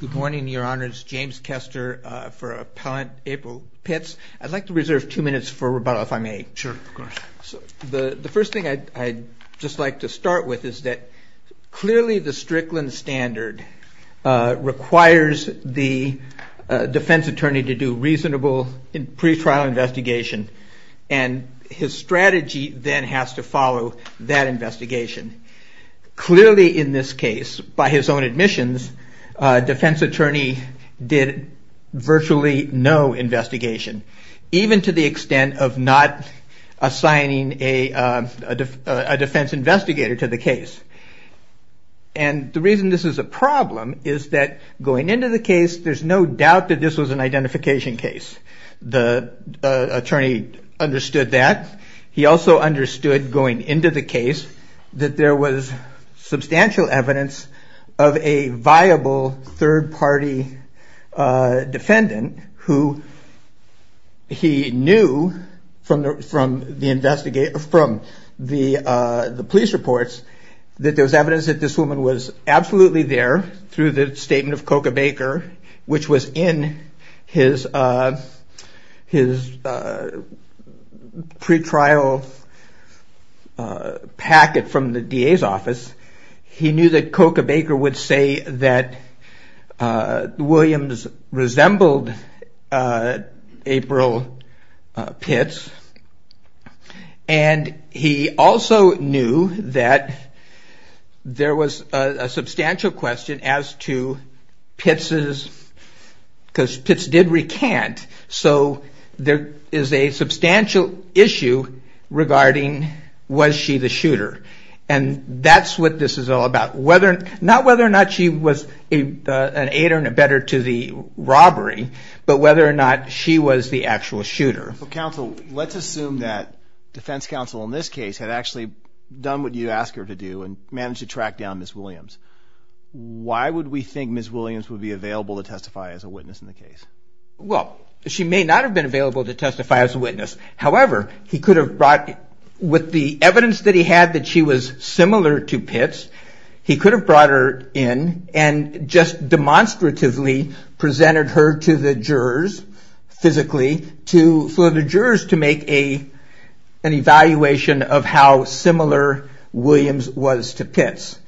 Good morning, your honors. James Kester for Appellant April Pitts. I'd like to reserve two minutes for rebuttal if I may. Sure, of course. The first thing I'd just like to start with is that clearly the Strickland standard requires the defense attorney to do reasonable pre-trial investigation and his strategy then has to follow that investigation. Clearly in this case, by his own admissions, a defense attorney did virtually no investigation, even to the extent of not assigning a defense investigator to the case. And the reason this is a problem is that going into the case, he understood that. He also understood going into the case that there was substantial evidence of a viable third-party defendant who he knew from the police reports that there was evidence that this woman was absolutely there through the statement of Coca Baker, which was in his pre-trial packet from the DA's office. He knew that Coca Baker would say that Williams resembled April Pitts and he also knew that there was a substantial issue regarding was she the shooter. And that's what this is all about. Not whether or not she was an aid or better to the robbery, but whether or not she was the actual shooter. Counsel, let's assume that defense counsel in this case had actually done what you asked her to do and managed to track down Ms. Williams. Why would we think Ms. Williams would be available to testify as a witness in the case? Well, she may not have been available to testify as a witness. However, with the evidence that he had that she was similar to Pitts, he could have brought her in and just demonstratively presented her to the jurors physically for the jurors to make an evaluation of how similar Williams was to Pitts.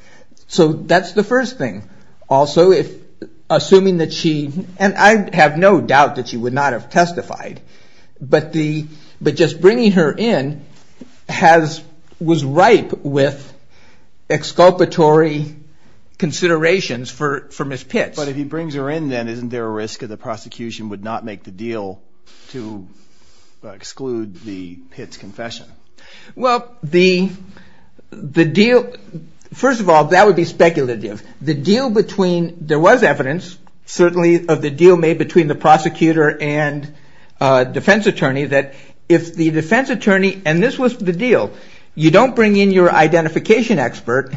So that's the first thing. Also, assuming that she, and I have no doubt that she would not have testified, but just bringing her in was ripe with exculpatory considerations for Ms. Pitts. But if he brings her in then isn't there a risk that the prosecution would not make the deal to exclude the Pitts confession? Well, the deal, first of all, that would be speculative. The deal between, there was evidence certainly of the deal made between the prosecutor and defense attorney that if the defense attorney, and this was the deal, you don't bring in your identification expert,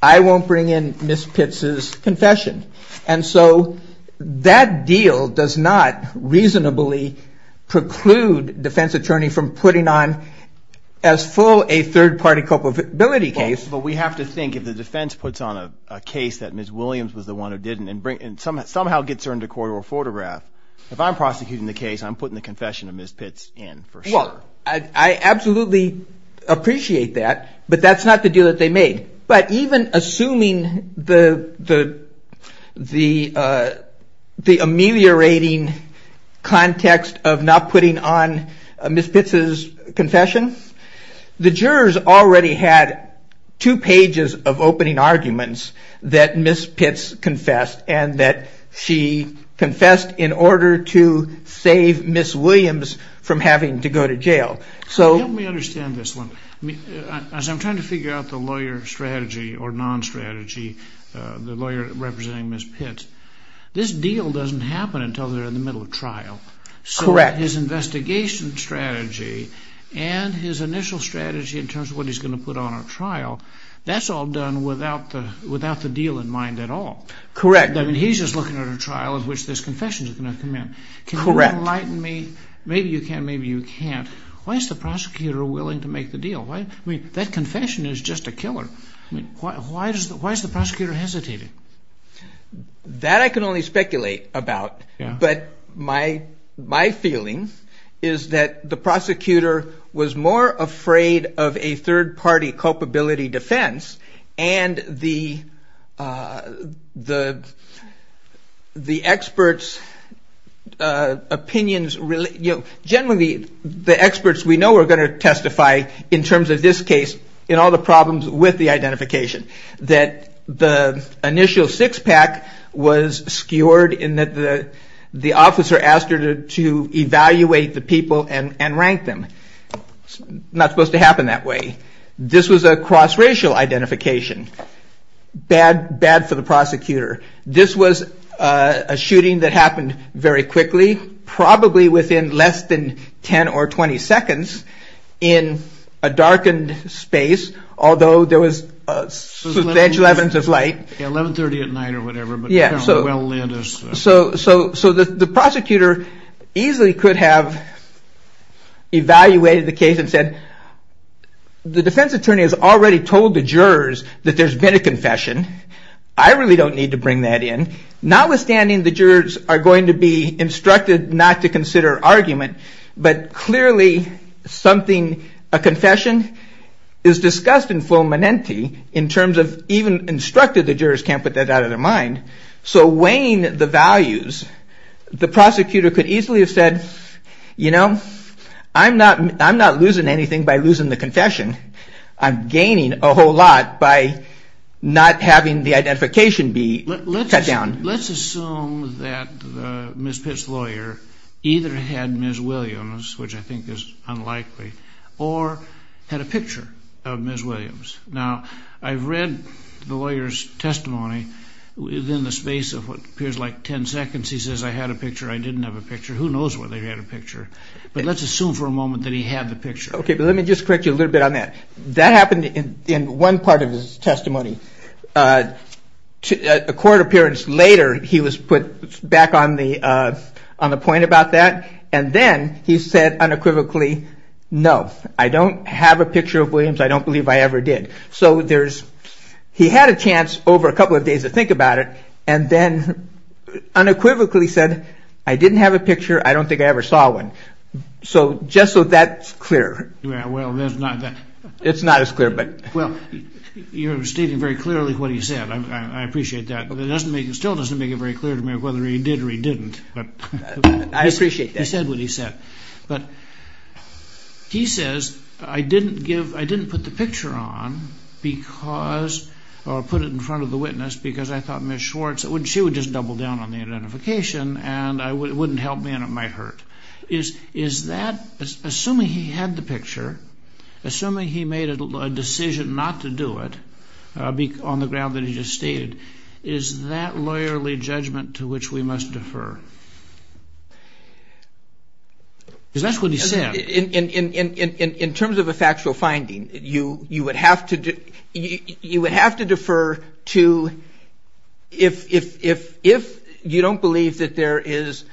I won't bring in Ms. Pitts' confession. And so that deal does not reasonably preclude defense attorney from putting on as full a third-party culpability case. But we have to think if the defense puts on a case that Ms. Williams was the one who did it and somehow gets her into court or photographed, if I'm prosecuting the case, I'm putting the confession of Ms. Pitts in for sure. Well, I absolutely appreciate that, but that's not the deal that they made. But even assuming the ameliorating context of not putting on Ms. Pitts' confession, the jurors already had two pages of opening arguments that Ms. Pitts confessed and that she confessed in order to save Ms. Williams from having to go to jail. Let me understand this one. As I'm trying to figure out the lawyer strategy or non-strategy, the lawyer representing Ms. Pitts, this deal doesn't happen until they're in the middle of trial. Correct. So his investigation strategy and his initial strategy in terms of what he's going to put on at trial, that's all done without the deal in mind at all. Correct. He's just looking at a trial in which this confession is going to come in. Correct. Can you enlighten me? Maybe you can, maybe you can't. Why is the prosecutor willing to make the deal? That confession is just a killer. Why is the prosecutor afraid of a third-party culpability defense and the experts' opinions? Generally, the experts we know are going to testify in terms of this case in all the problems with the case. This is not supposed to happen that way. This was a cross-racial identification. Bad for the prosecutor. This was a shooting that happened very quickly, probably within less than 10 or 20 seconds in a darkened space, although there was a substantial amount of light. 1130 at night or whatever. So the prosecutor easily could have evaluated the case and said, the defense attorney has already told the jurors that there's been a confession. I really don't need to bring that in. Notwithstanding, the jurors are going to be instructed not to consider argument, but clearly something, a confession is discussed in full and the jurors can't put that out of their mind. So weighing the values, the prosecutor could easily have said, you know, I'm not losing anything by losing the confession. I'm gaining a whole lot by not having the identification be cut down. Let's assume that Ms. Pitt's lawyer either had Ms. Williams, which I think is unlikely, or had a picture of Ms. Williams. Now, I've read the lawyer's testimony within the space of what appears like 10 seconds. He says, I had a picture, I didn't have a picture. Who knows whether he had a picture? But let's assume for a moment that he had the picture. Okay, but let me just correct you a little bit on that. That happened in one part of his testimony. A court appearance later, he was put back on the point about that. And then he said unequivocally, no, I don't have a picture of Williams. I don't believe I ever did. So there's, he had a chance over a couple of days to think about it. And then unequivocally said, I didn't have a picture. I don't think I ever saw one. So just so that's clear. Yeah, well, there's not that it's not as clear, but well, you're stating very clearly what he said. I appreciate that. But it doesn't make it still doesn't make it very clear to me whether he did or he didn't. But I appreciate that he said what he said. But he says, I didn't give I didn't put the picture on because I'll put it in front of the witness because I thought Miss Schwartz wouldn't she would just double down on the identification and I wouldn't help me and it might hurt is is that assuming he had the picture. Assuming he made a decision not to do it on the ground that he just stated, is that lawyerly judgment to which we must defer? In terms of a factual finding, you would have to defer to if you don't believe that there is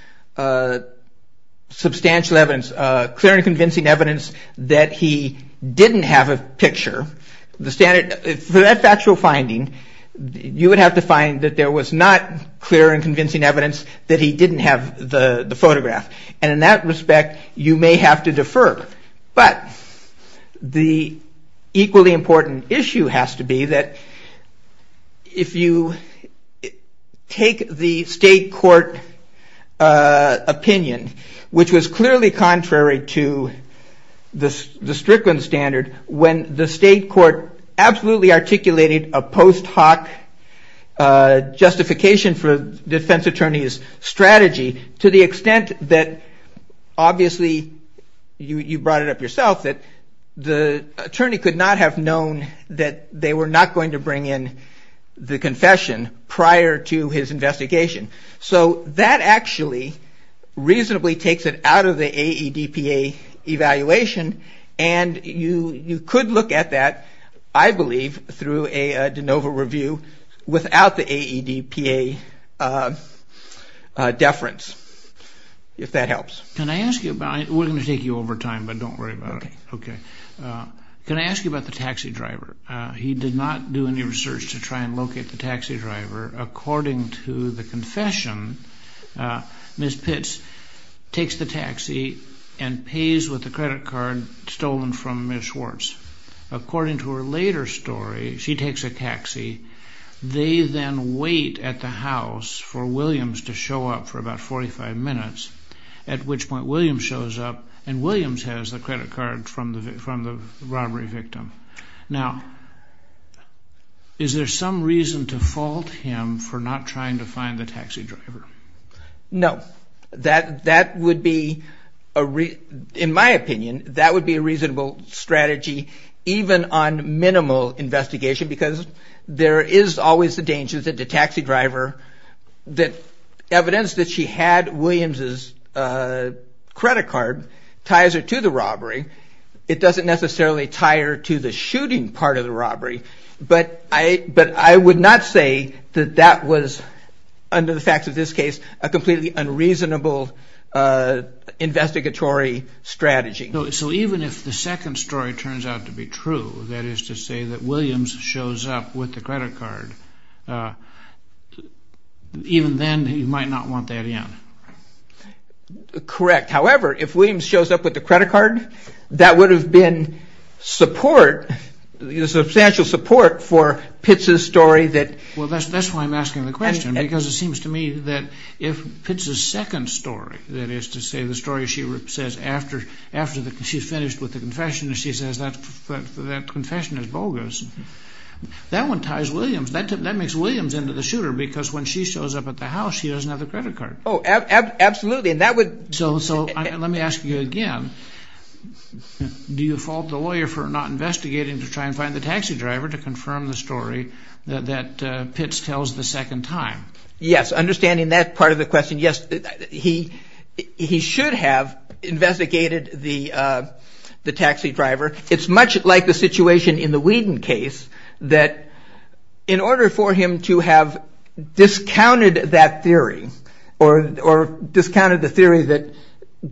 substantial evidence, clear and convincing evidence that he didn't have a picture, the standard for that factual finding, you would have to find that there was not clear and convincing evidence that he didn't have a picture. He didn't have the photograph. And in that respect, you may have to defer. But the equally important issue has to be that if you take the state court opinion, which was clearly contrary to the Strickland standard, when the state court absolutely articulated a post hoc justification for defense attorney's strategy. To the extent that obviously, you brought it up yourself, that the attorney could not have known that they were not going to bring in the confession prior to his investigation. So that actually reasonably takes it out of the AEDPA evaluation and you could look at that, I believe, through a de novo review without the AEDPA downgrading. Can I ask you about the taxi driver? He did not do any research to try and locate the taxi driver. According to the confession, Ms. Pitts takes the taxi and pays with the credit card stolen from Ms. Schwartz. According to her later story, she takes a taxi. They then wait at the house for Williams to show up for about 45 minutes, at which point Williams shows up and Williams has the credit card from the robbery victim. Now, is there some reason to fault him for not trying to find the taxi driver? No. That would be, in my opinion, that would be a reasonable strategy, even on minimal investigation, because there is always the danger that the taxi driver, evidence that she had Williams' credit card, ties her to the robbery. It doesn't necessarily tie her to the shooting part of the robbery. But I would not say that that was, under the facts of this case, a completely unreasonable investigatory strategy. So even if the second story turns out to be true, that is to say that Williams shows up with the credit card, even then you might not want that in? Correct. However, if Williams shows up with the credit card, that would have been support, substantial support for Pitts' story. Well, that's why I'm asking the question, because it seems to me that if Pitts' second story, that is to say the story she says after she's finished with the confession, she says that confession is bogus, that one ties Williams, that makes Williams into the shooter, because when she shows up at the house she doesn't have the credit card. Absolutely. So let me ask you again, do you fault the lawyer for not investigating to try and find the taxi driver to confirm the story that Pitts tells the second time? Yes, understanding that part of the question, yes, he should have investigated the taxi driver. It's much like the situation in the Whedon case, that in order for him to have discounted that theory, or discounted the theory that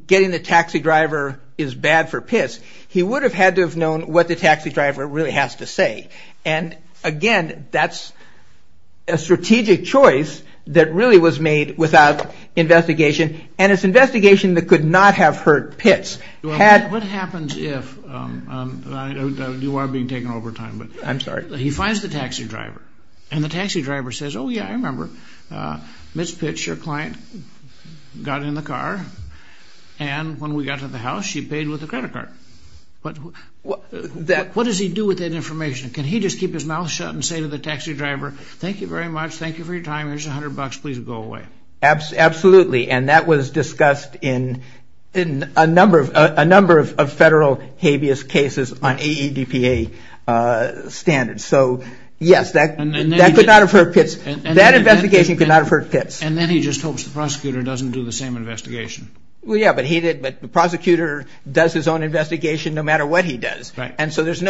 getting the taxi driver is bad for Pitts, he would have had to have known what the taxi driver really has to say. And again, that's a strategic choice that really was made without investigation, and it's investigation that could not have hurt Pitts. What happens if, you are being taken over time, he finds the taxi driver, and the taxi driver says, oh yeah, I remember, Ms. Pitts, your client, got in the car, and when we got to the house she paid with the credit card. What does he do with that information? Can he just keep his mouth shut and say to the taxi driver, thank you very much, thank you for your time, here's a hundred bucks, please go away. Absolutely, and that was discussed in a number of federal habeas cases on AEDPA standards. So yes, that investigation could not have hurt Pitts. And then he just hopes the prosecutor doesn't do the same investigation. Yeah, but the prosecutor does his own investigation no matter what he does. Right. And so there's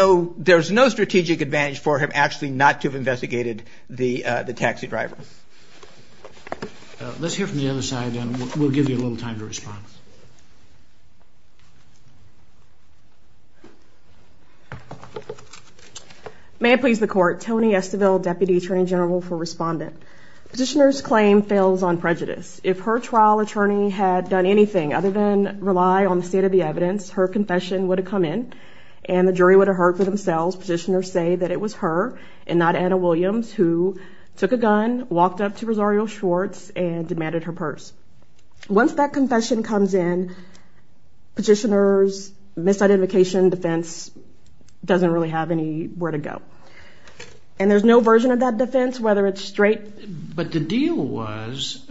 no strategic advantage for him actually not to have investigated the taxi driver. Let's hear from the other side, and we'll give you a little time to respond. May it please the Court. Toni Esteville, Deputy Attorney General for Respondent. Petitioner's claim fails on prejudice. If her trial attorney had done anything other than rely on the state of the evidence, her confession would have come in, and the jury would have heard for themselves. Petitioners say that it was her, and not Anna Williams, who took a gun, walked up to Rosario Schwartz, and demanded her purse. Once that confession comes in, petitioner's misidentification defense doesn't really have anywhere to go. And there's no version of that defense, whether it's straight. But the deal was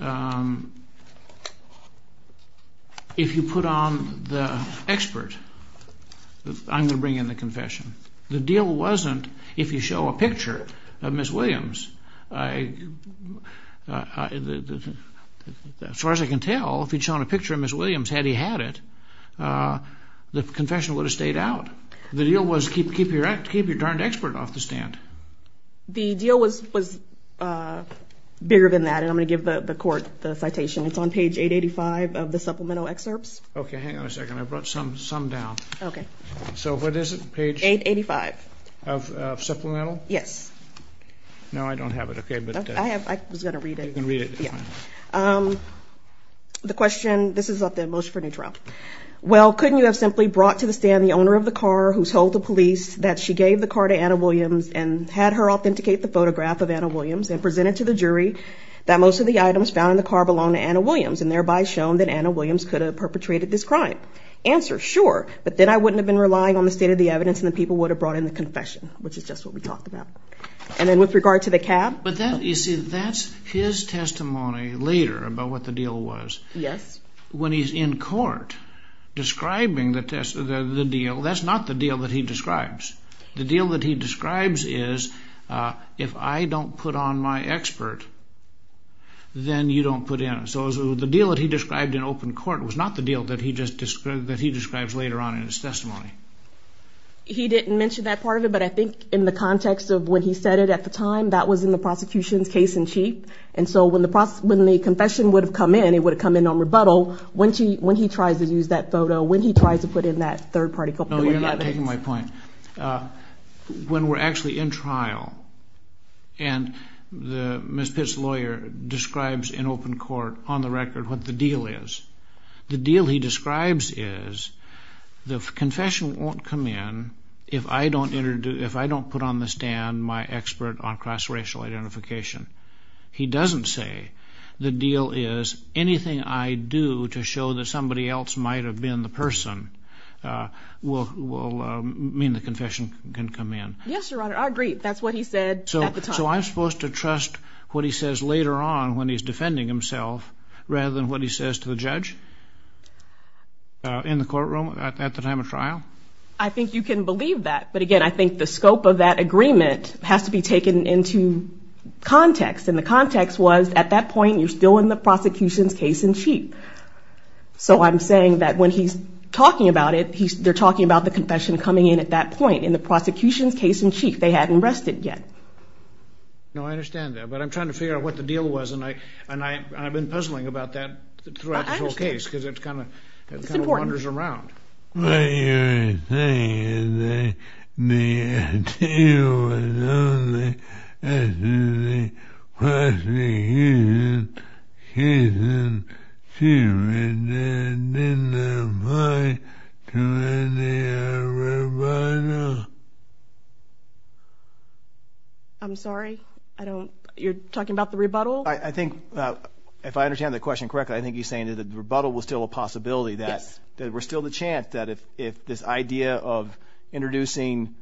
if you put on the expert, I'm going to bring in the confession. The deal wasn't if you show a picture of Ms. Williams. As far as I can tell, if you'd shown a picture of Ms. Williams, had he had it, the confession would have stayed out. The deal was keep your darned expert off the stand. The deal was bigger than that, and I'm going to give the Court the citation. It's on page 885 of the supplemental excerpts. Okay, hang on a second. I brought some down. Okay. So what is it? Page 885. Of supplemental? Yes. No, I don't have it. Okay. I was going to read it. You can read it. Yeah. The question, this is about the motion for a new trial. Well, couldn't you have simply brought to the stand the owner of the car who told the police that she gave the car to Anna Williams and had her authenticate the photograph of Anna Williams and presented to the jury that most of the items found in the car belonged to Anna Williams and thereby shown that Anna Williams could have perpetrated this crime? Answer, sure, but then I wouldn't have been relying on the state of the evidence, and the people would have brought in the confession, which is just what we talked about. And then with regard to the cab? But that, you see, that's his testimony later about what the deal was. Yes. When he's in court describing the deal, that's not the deal that he describes. The deal that he describes is if I don't put on my expert, then you don't put in. So the deal that he described in open court was not the deal that he describes later on in his testimony. He didn't mention that part of it, but I think in the context of when he said it at the time, that was in the prosecution's case-in-chief. And so when the confession would have come in, it would have come in on rebuttal. When he tries to use that photo, when he tries to put in that third-party- No, you're not taking my point. When we're actually in trial and Ms. Pitt's lawyer describes in open court on the record what the deal is, the deal he describes is the confession won't come in if I don't put on the stand my expert on cross-racial identification. He doesn't say the deal is anything I do to show that somebody else might have been the person will mean the confession can come in. Yes, Your Honor, I agree. That's what he said at the time. So I'm supposed to trust what he says later on when he's defending himself rather than what he says to the judge in the courtroom at the time of trial? I think you can believe that. But again, I think the scope of that agreement has to be taken into context. And the context was at that point, you're still in the prosecution's case-in-chief. So I'm saying that when he's talking about it, they're talking about the confession coming in at that point in the prosecution's case-in-chief. They hadn't rested yet. No, I understand that. But I'm trying to figure out what the deal was, and I've been puzzling about that throughout this whole case because it kind of wanders around. What you're saying is that the deal was only as to the prosecution's case-in-chief and didn't apply to any of the rebuttal? I'm sorry? You're talking about the rebuttal? I think, if I understand the question correctly, I think you're saying that the rebuttal was still a possibility. Yes. That there was still the chance that if this idea of introducing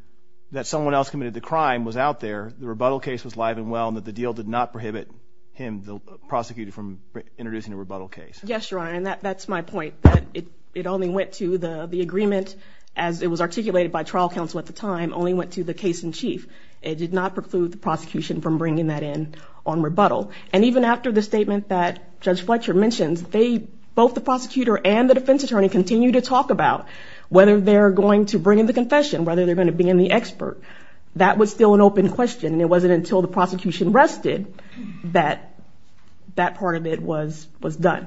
that someone else committed the crime was out there, the rebuttal case was live and well, and that the deal did not prohibit him, the prosecutor, from introducing a rebuttal case. Yes, Your Honor, and that's my point. It only went to the agreement, as it was articulated by trial counsel at the time, only went to the case-in-chief. It did not preclude the prosecution from bringing that in on rebuttal. And even after the statement that Judge Fletcher mentions, they, both the prosecutor and the defense attorney, continue to talk about whether they're going to bring in the confession, whether they're going to bring in the expert. That was still an open question, and it wasn't until the prosecution rested that that part of it was done.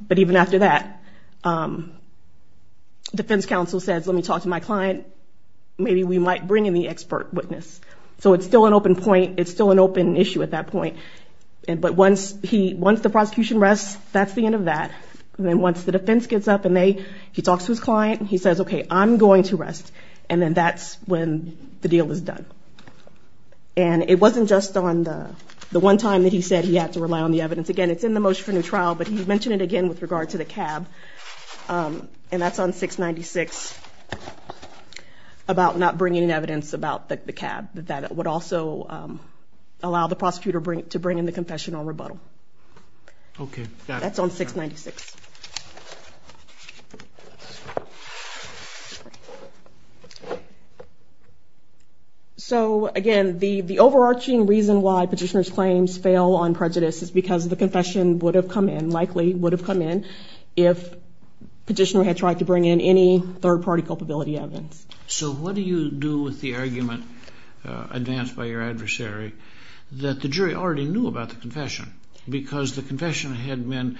But even after that, defense counsel says, let me talk to my client. Maybe we might bring in the expert witness. So it's still an open point. It's still an open issue at that point. But once the prosecution rests, that's the end of that. And then once the defense gets up and he talks to his client, he says, okay, I'm going to rest. And then that's when the deal is done. And it wasn't just on the one time that he said he had to rely on the evidence. Again, it's in the motion for new trial, but he mentioned it again with regard to the cab, and that's on 696, about not bringing in evidence about the cab. That would also allow the prosecutor to bring in the confession or rebuttal. Okay. That's on 696. So, again, the overarching reason why petitioner's claims fail on prejudice is because the confession would have come in, if petitioner had tried to bring in any third-party culpability evidence. So what do you do with the argument advanced by your adversary that the jury already knew about the confession because the confession had been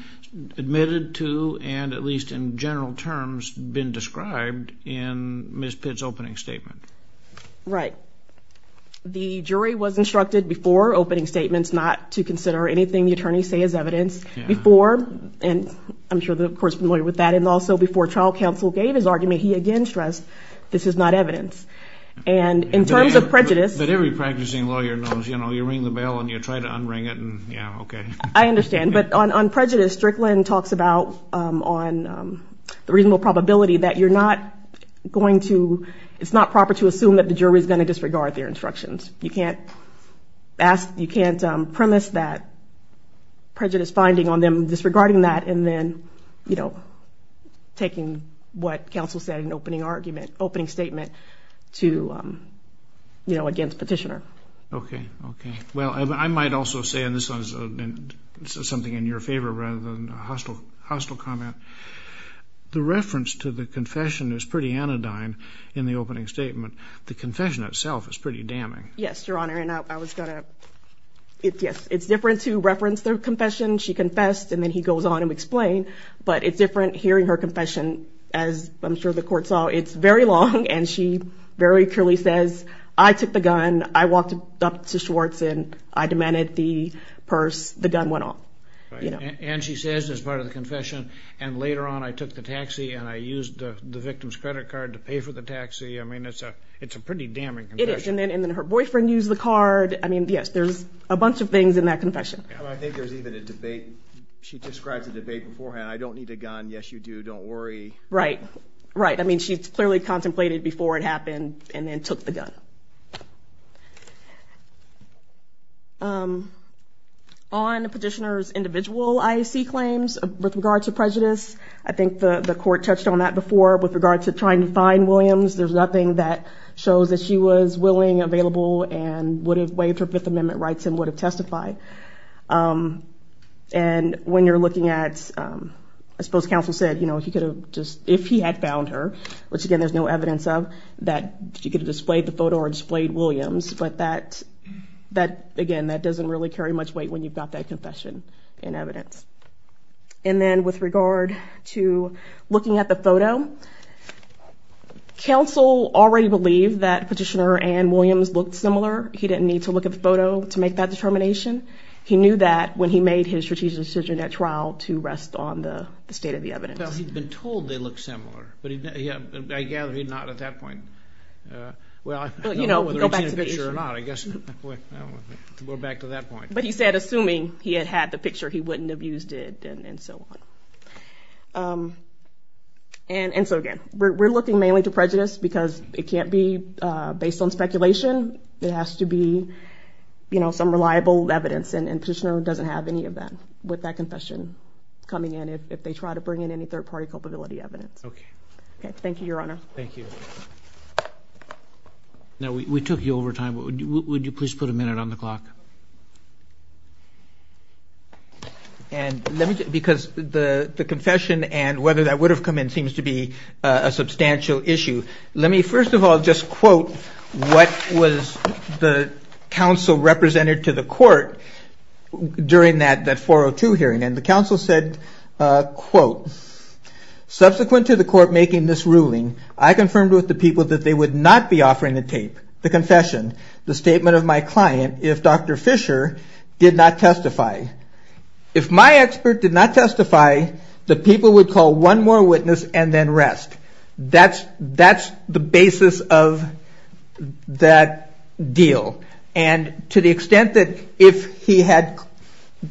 admitted to and, at least in general terms, been described in Ms. Pitt's opening statement? Right. The jury was instructed before opening statements not to consider anything the attorneys say as evidence. Before, and I'm sure the court's familiar with that, and also before trial counsel gave his argument, he again stressed this is not evidence. And in terms of prejudice. But every practicing lawyer knows, you know, you ring the bell and you try to unring it and, yeah, okay. I understand. But on prejudice, Strickland talks about on the reasonable probability that you're not going to – it's not proper to assume that the jury's going to disregard their instructions. You can't ask – you can't premise that prejudice finding on them disregarding that and then, you know, taking what counsel said in opening argument, opening statement to, you know, against petitioner. Okay. Okay. Well, I might also say, and this is something in your favor rather than a hostile comment, the reference to the confession is pretty anodyne in the opening statement. The confession itself is pretty damning. Yes, Your Honor, and I was going to – yes, it's different to reference the confession. She confessed, and then he goes on and explained. But it's different hearing her confession, as I'm sure the court saw. It's very long, and she very clearly says, I took the gun. I walked up to Schwartz and I demanded the purse. The gun went off. And she says, as part of the confession, and later on I took the taxi and I used the victim's credit card to pay for the taxi. I mean, it's a pretty damning confession. It is, and then her boyfriend used the card. I mean, yes, there's a bunch of things in that confession. I think there's even a debate. She describes a debate beforehand. I don't need a gun. Yes, you do. Don't worry. Right. Right. I mean, she clearly contemplated before it happened and then took the gun. On petitioner's individual IAC claims with regard to prejudice, I think the court touched on that before. With regard to trying to find Williams, there's nothing that shows that she was willing, available, and would have waived her Fifth Amendment rights and would have testified. And when you're looking at, I suppose counsel said, if he had found her, which, again, there's no evidence of, that she could have displayed the photo or displayed Williams. But, again, that doesn't really carry much weight when you've got that confession in evidence. And then with regard to looking at the photo, counsel already believed that petitioner Ann Williams looked similar. He didn't need to look at the photo to make that determination. He knew that when he made his strategic decision at trial to rest on the state of the evidence. Well, he'd been told they looked similar. But I gather he'd not at that point. Well, I don't know whether he'd seen the picture or not. I guess we're back to that point. But he said, assuming he had had the picture, he wouldn't have used it and so on. And so, again, we're looking mainly to prejudice because it can't be based on speculation. It has to be some reliable evidence, and petitioner doesn't have any of that with that confession coming in if they try to bring in any third-party culpability evidence. Thank you, Your Honor. Thank you. Now, we took you over time, but would you please put a minute on the clock? And because the confession and whether that would have come in seems to be a substantial issue, let me first of all just quote what was the counsel represented to the court And the counsel said, quote, Subsequent to the court making this ruling, I confirmed with the people that they would not be offering the tape, the confession, the statement of my client, if Dr. Fisher did not testify. If my expert did not testify, the people would call one more witness and then rest. That's the basis of that deal. And to the extent that if he had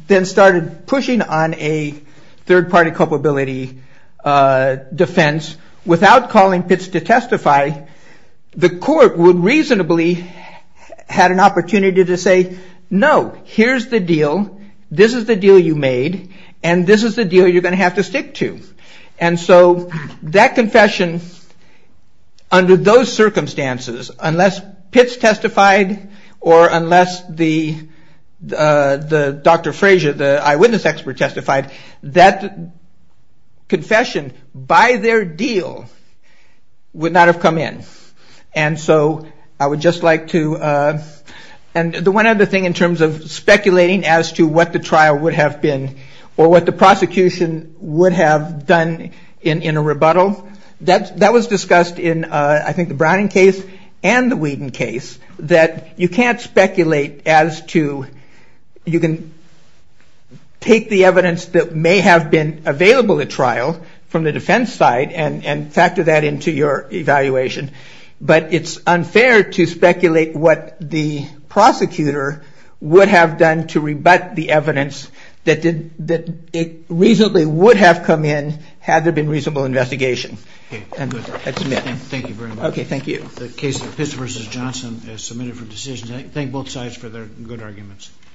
then started pushing on a third-party culpability defense without calling Pitts to testify, the court would reasonably had an opportunity to say, No, here's the deal. This is the deal you made, and this is the deal you're going to have to stick to. And so that confession, under those circumstances, unless Pitts testified or unless Dr. Fraser, the eyewitness expert testified, that confession by their deal would not have come in. And so I would just like to... And the one other thing in terms of speculating as to what the trial would have been or what the prosecution would have done in a rebuttal, that was discussed in, I think, the Browning case and the Whedon case, that you can't speculate as to... You can take the evidence that may have been available at trial from the defense side and factor that into your evaluation, but it's unfair to speculate what the prosecutor would have done to rebut the evidence that it reasonably would have come in had there been reasonable investigation. And that's me. Thank you very much. Okay, thank you. The case of Pitts v. Johnson is submitted for decision. Thank both sides for their good arguments.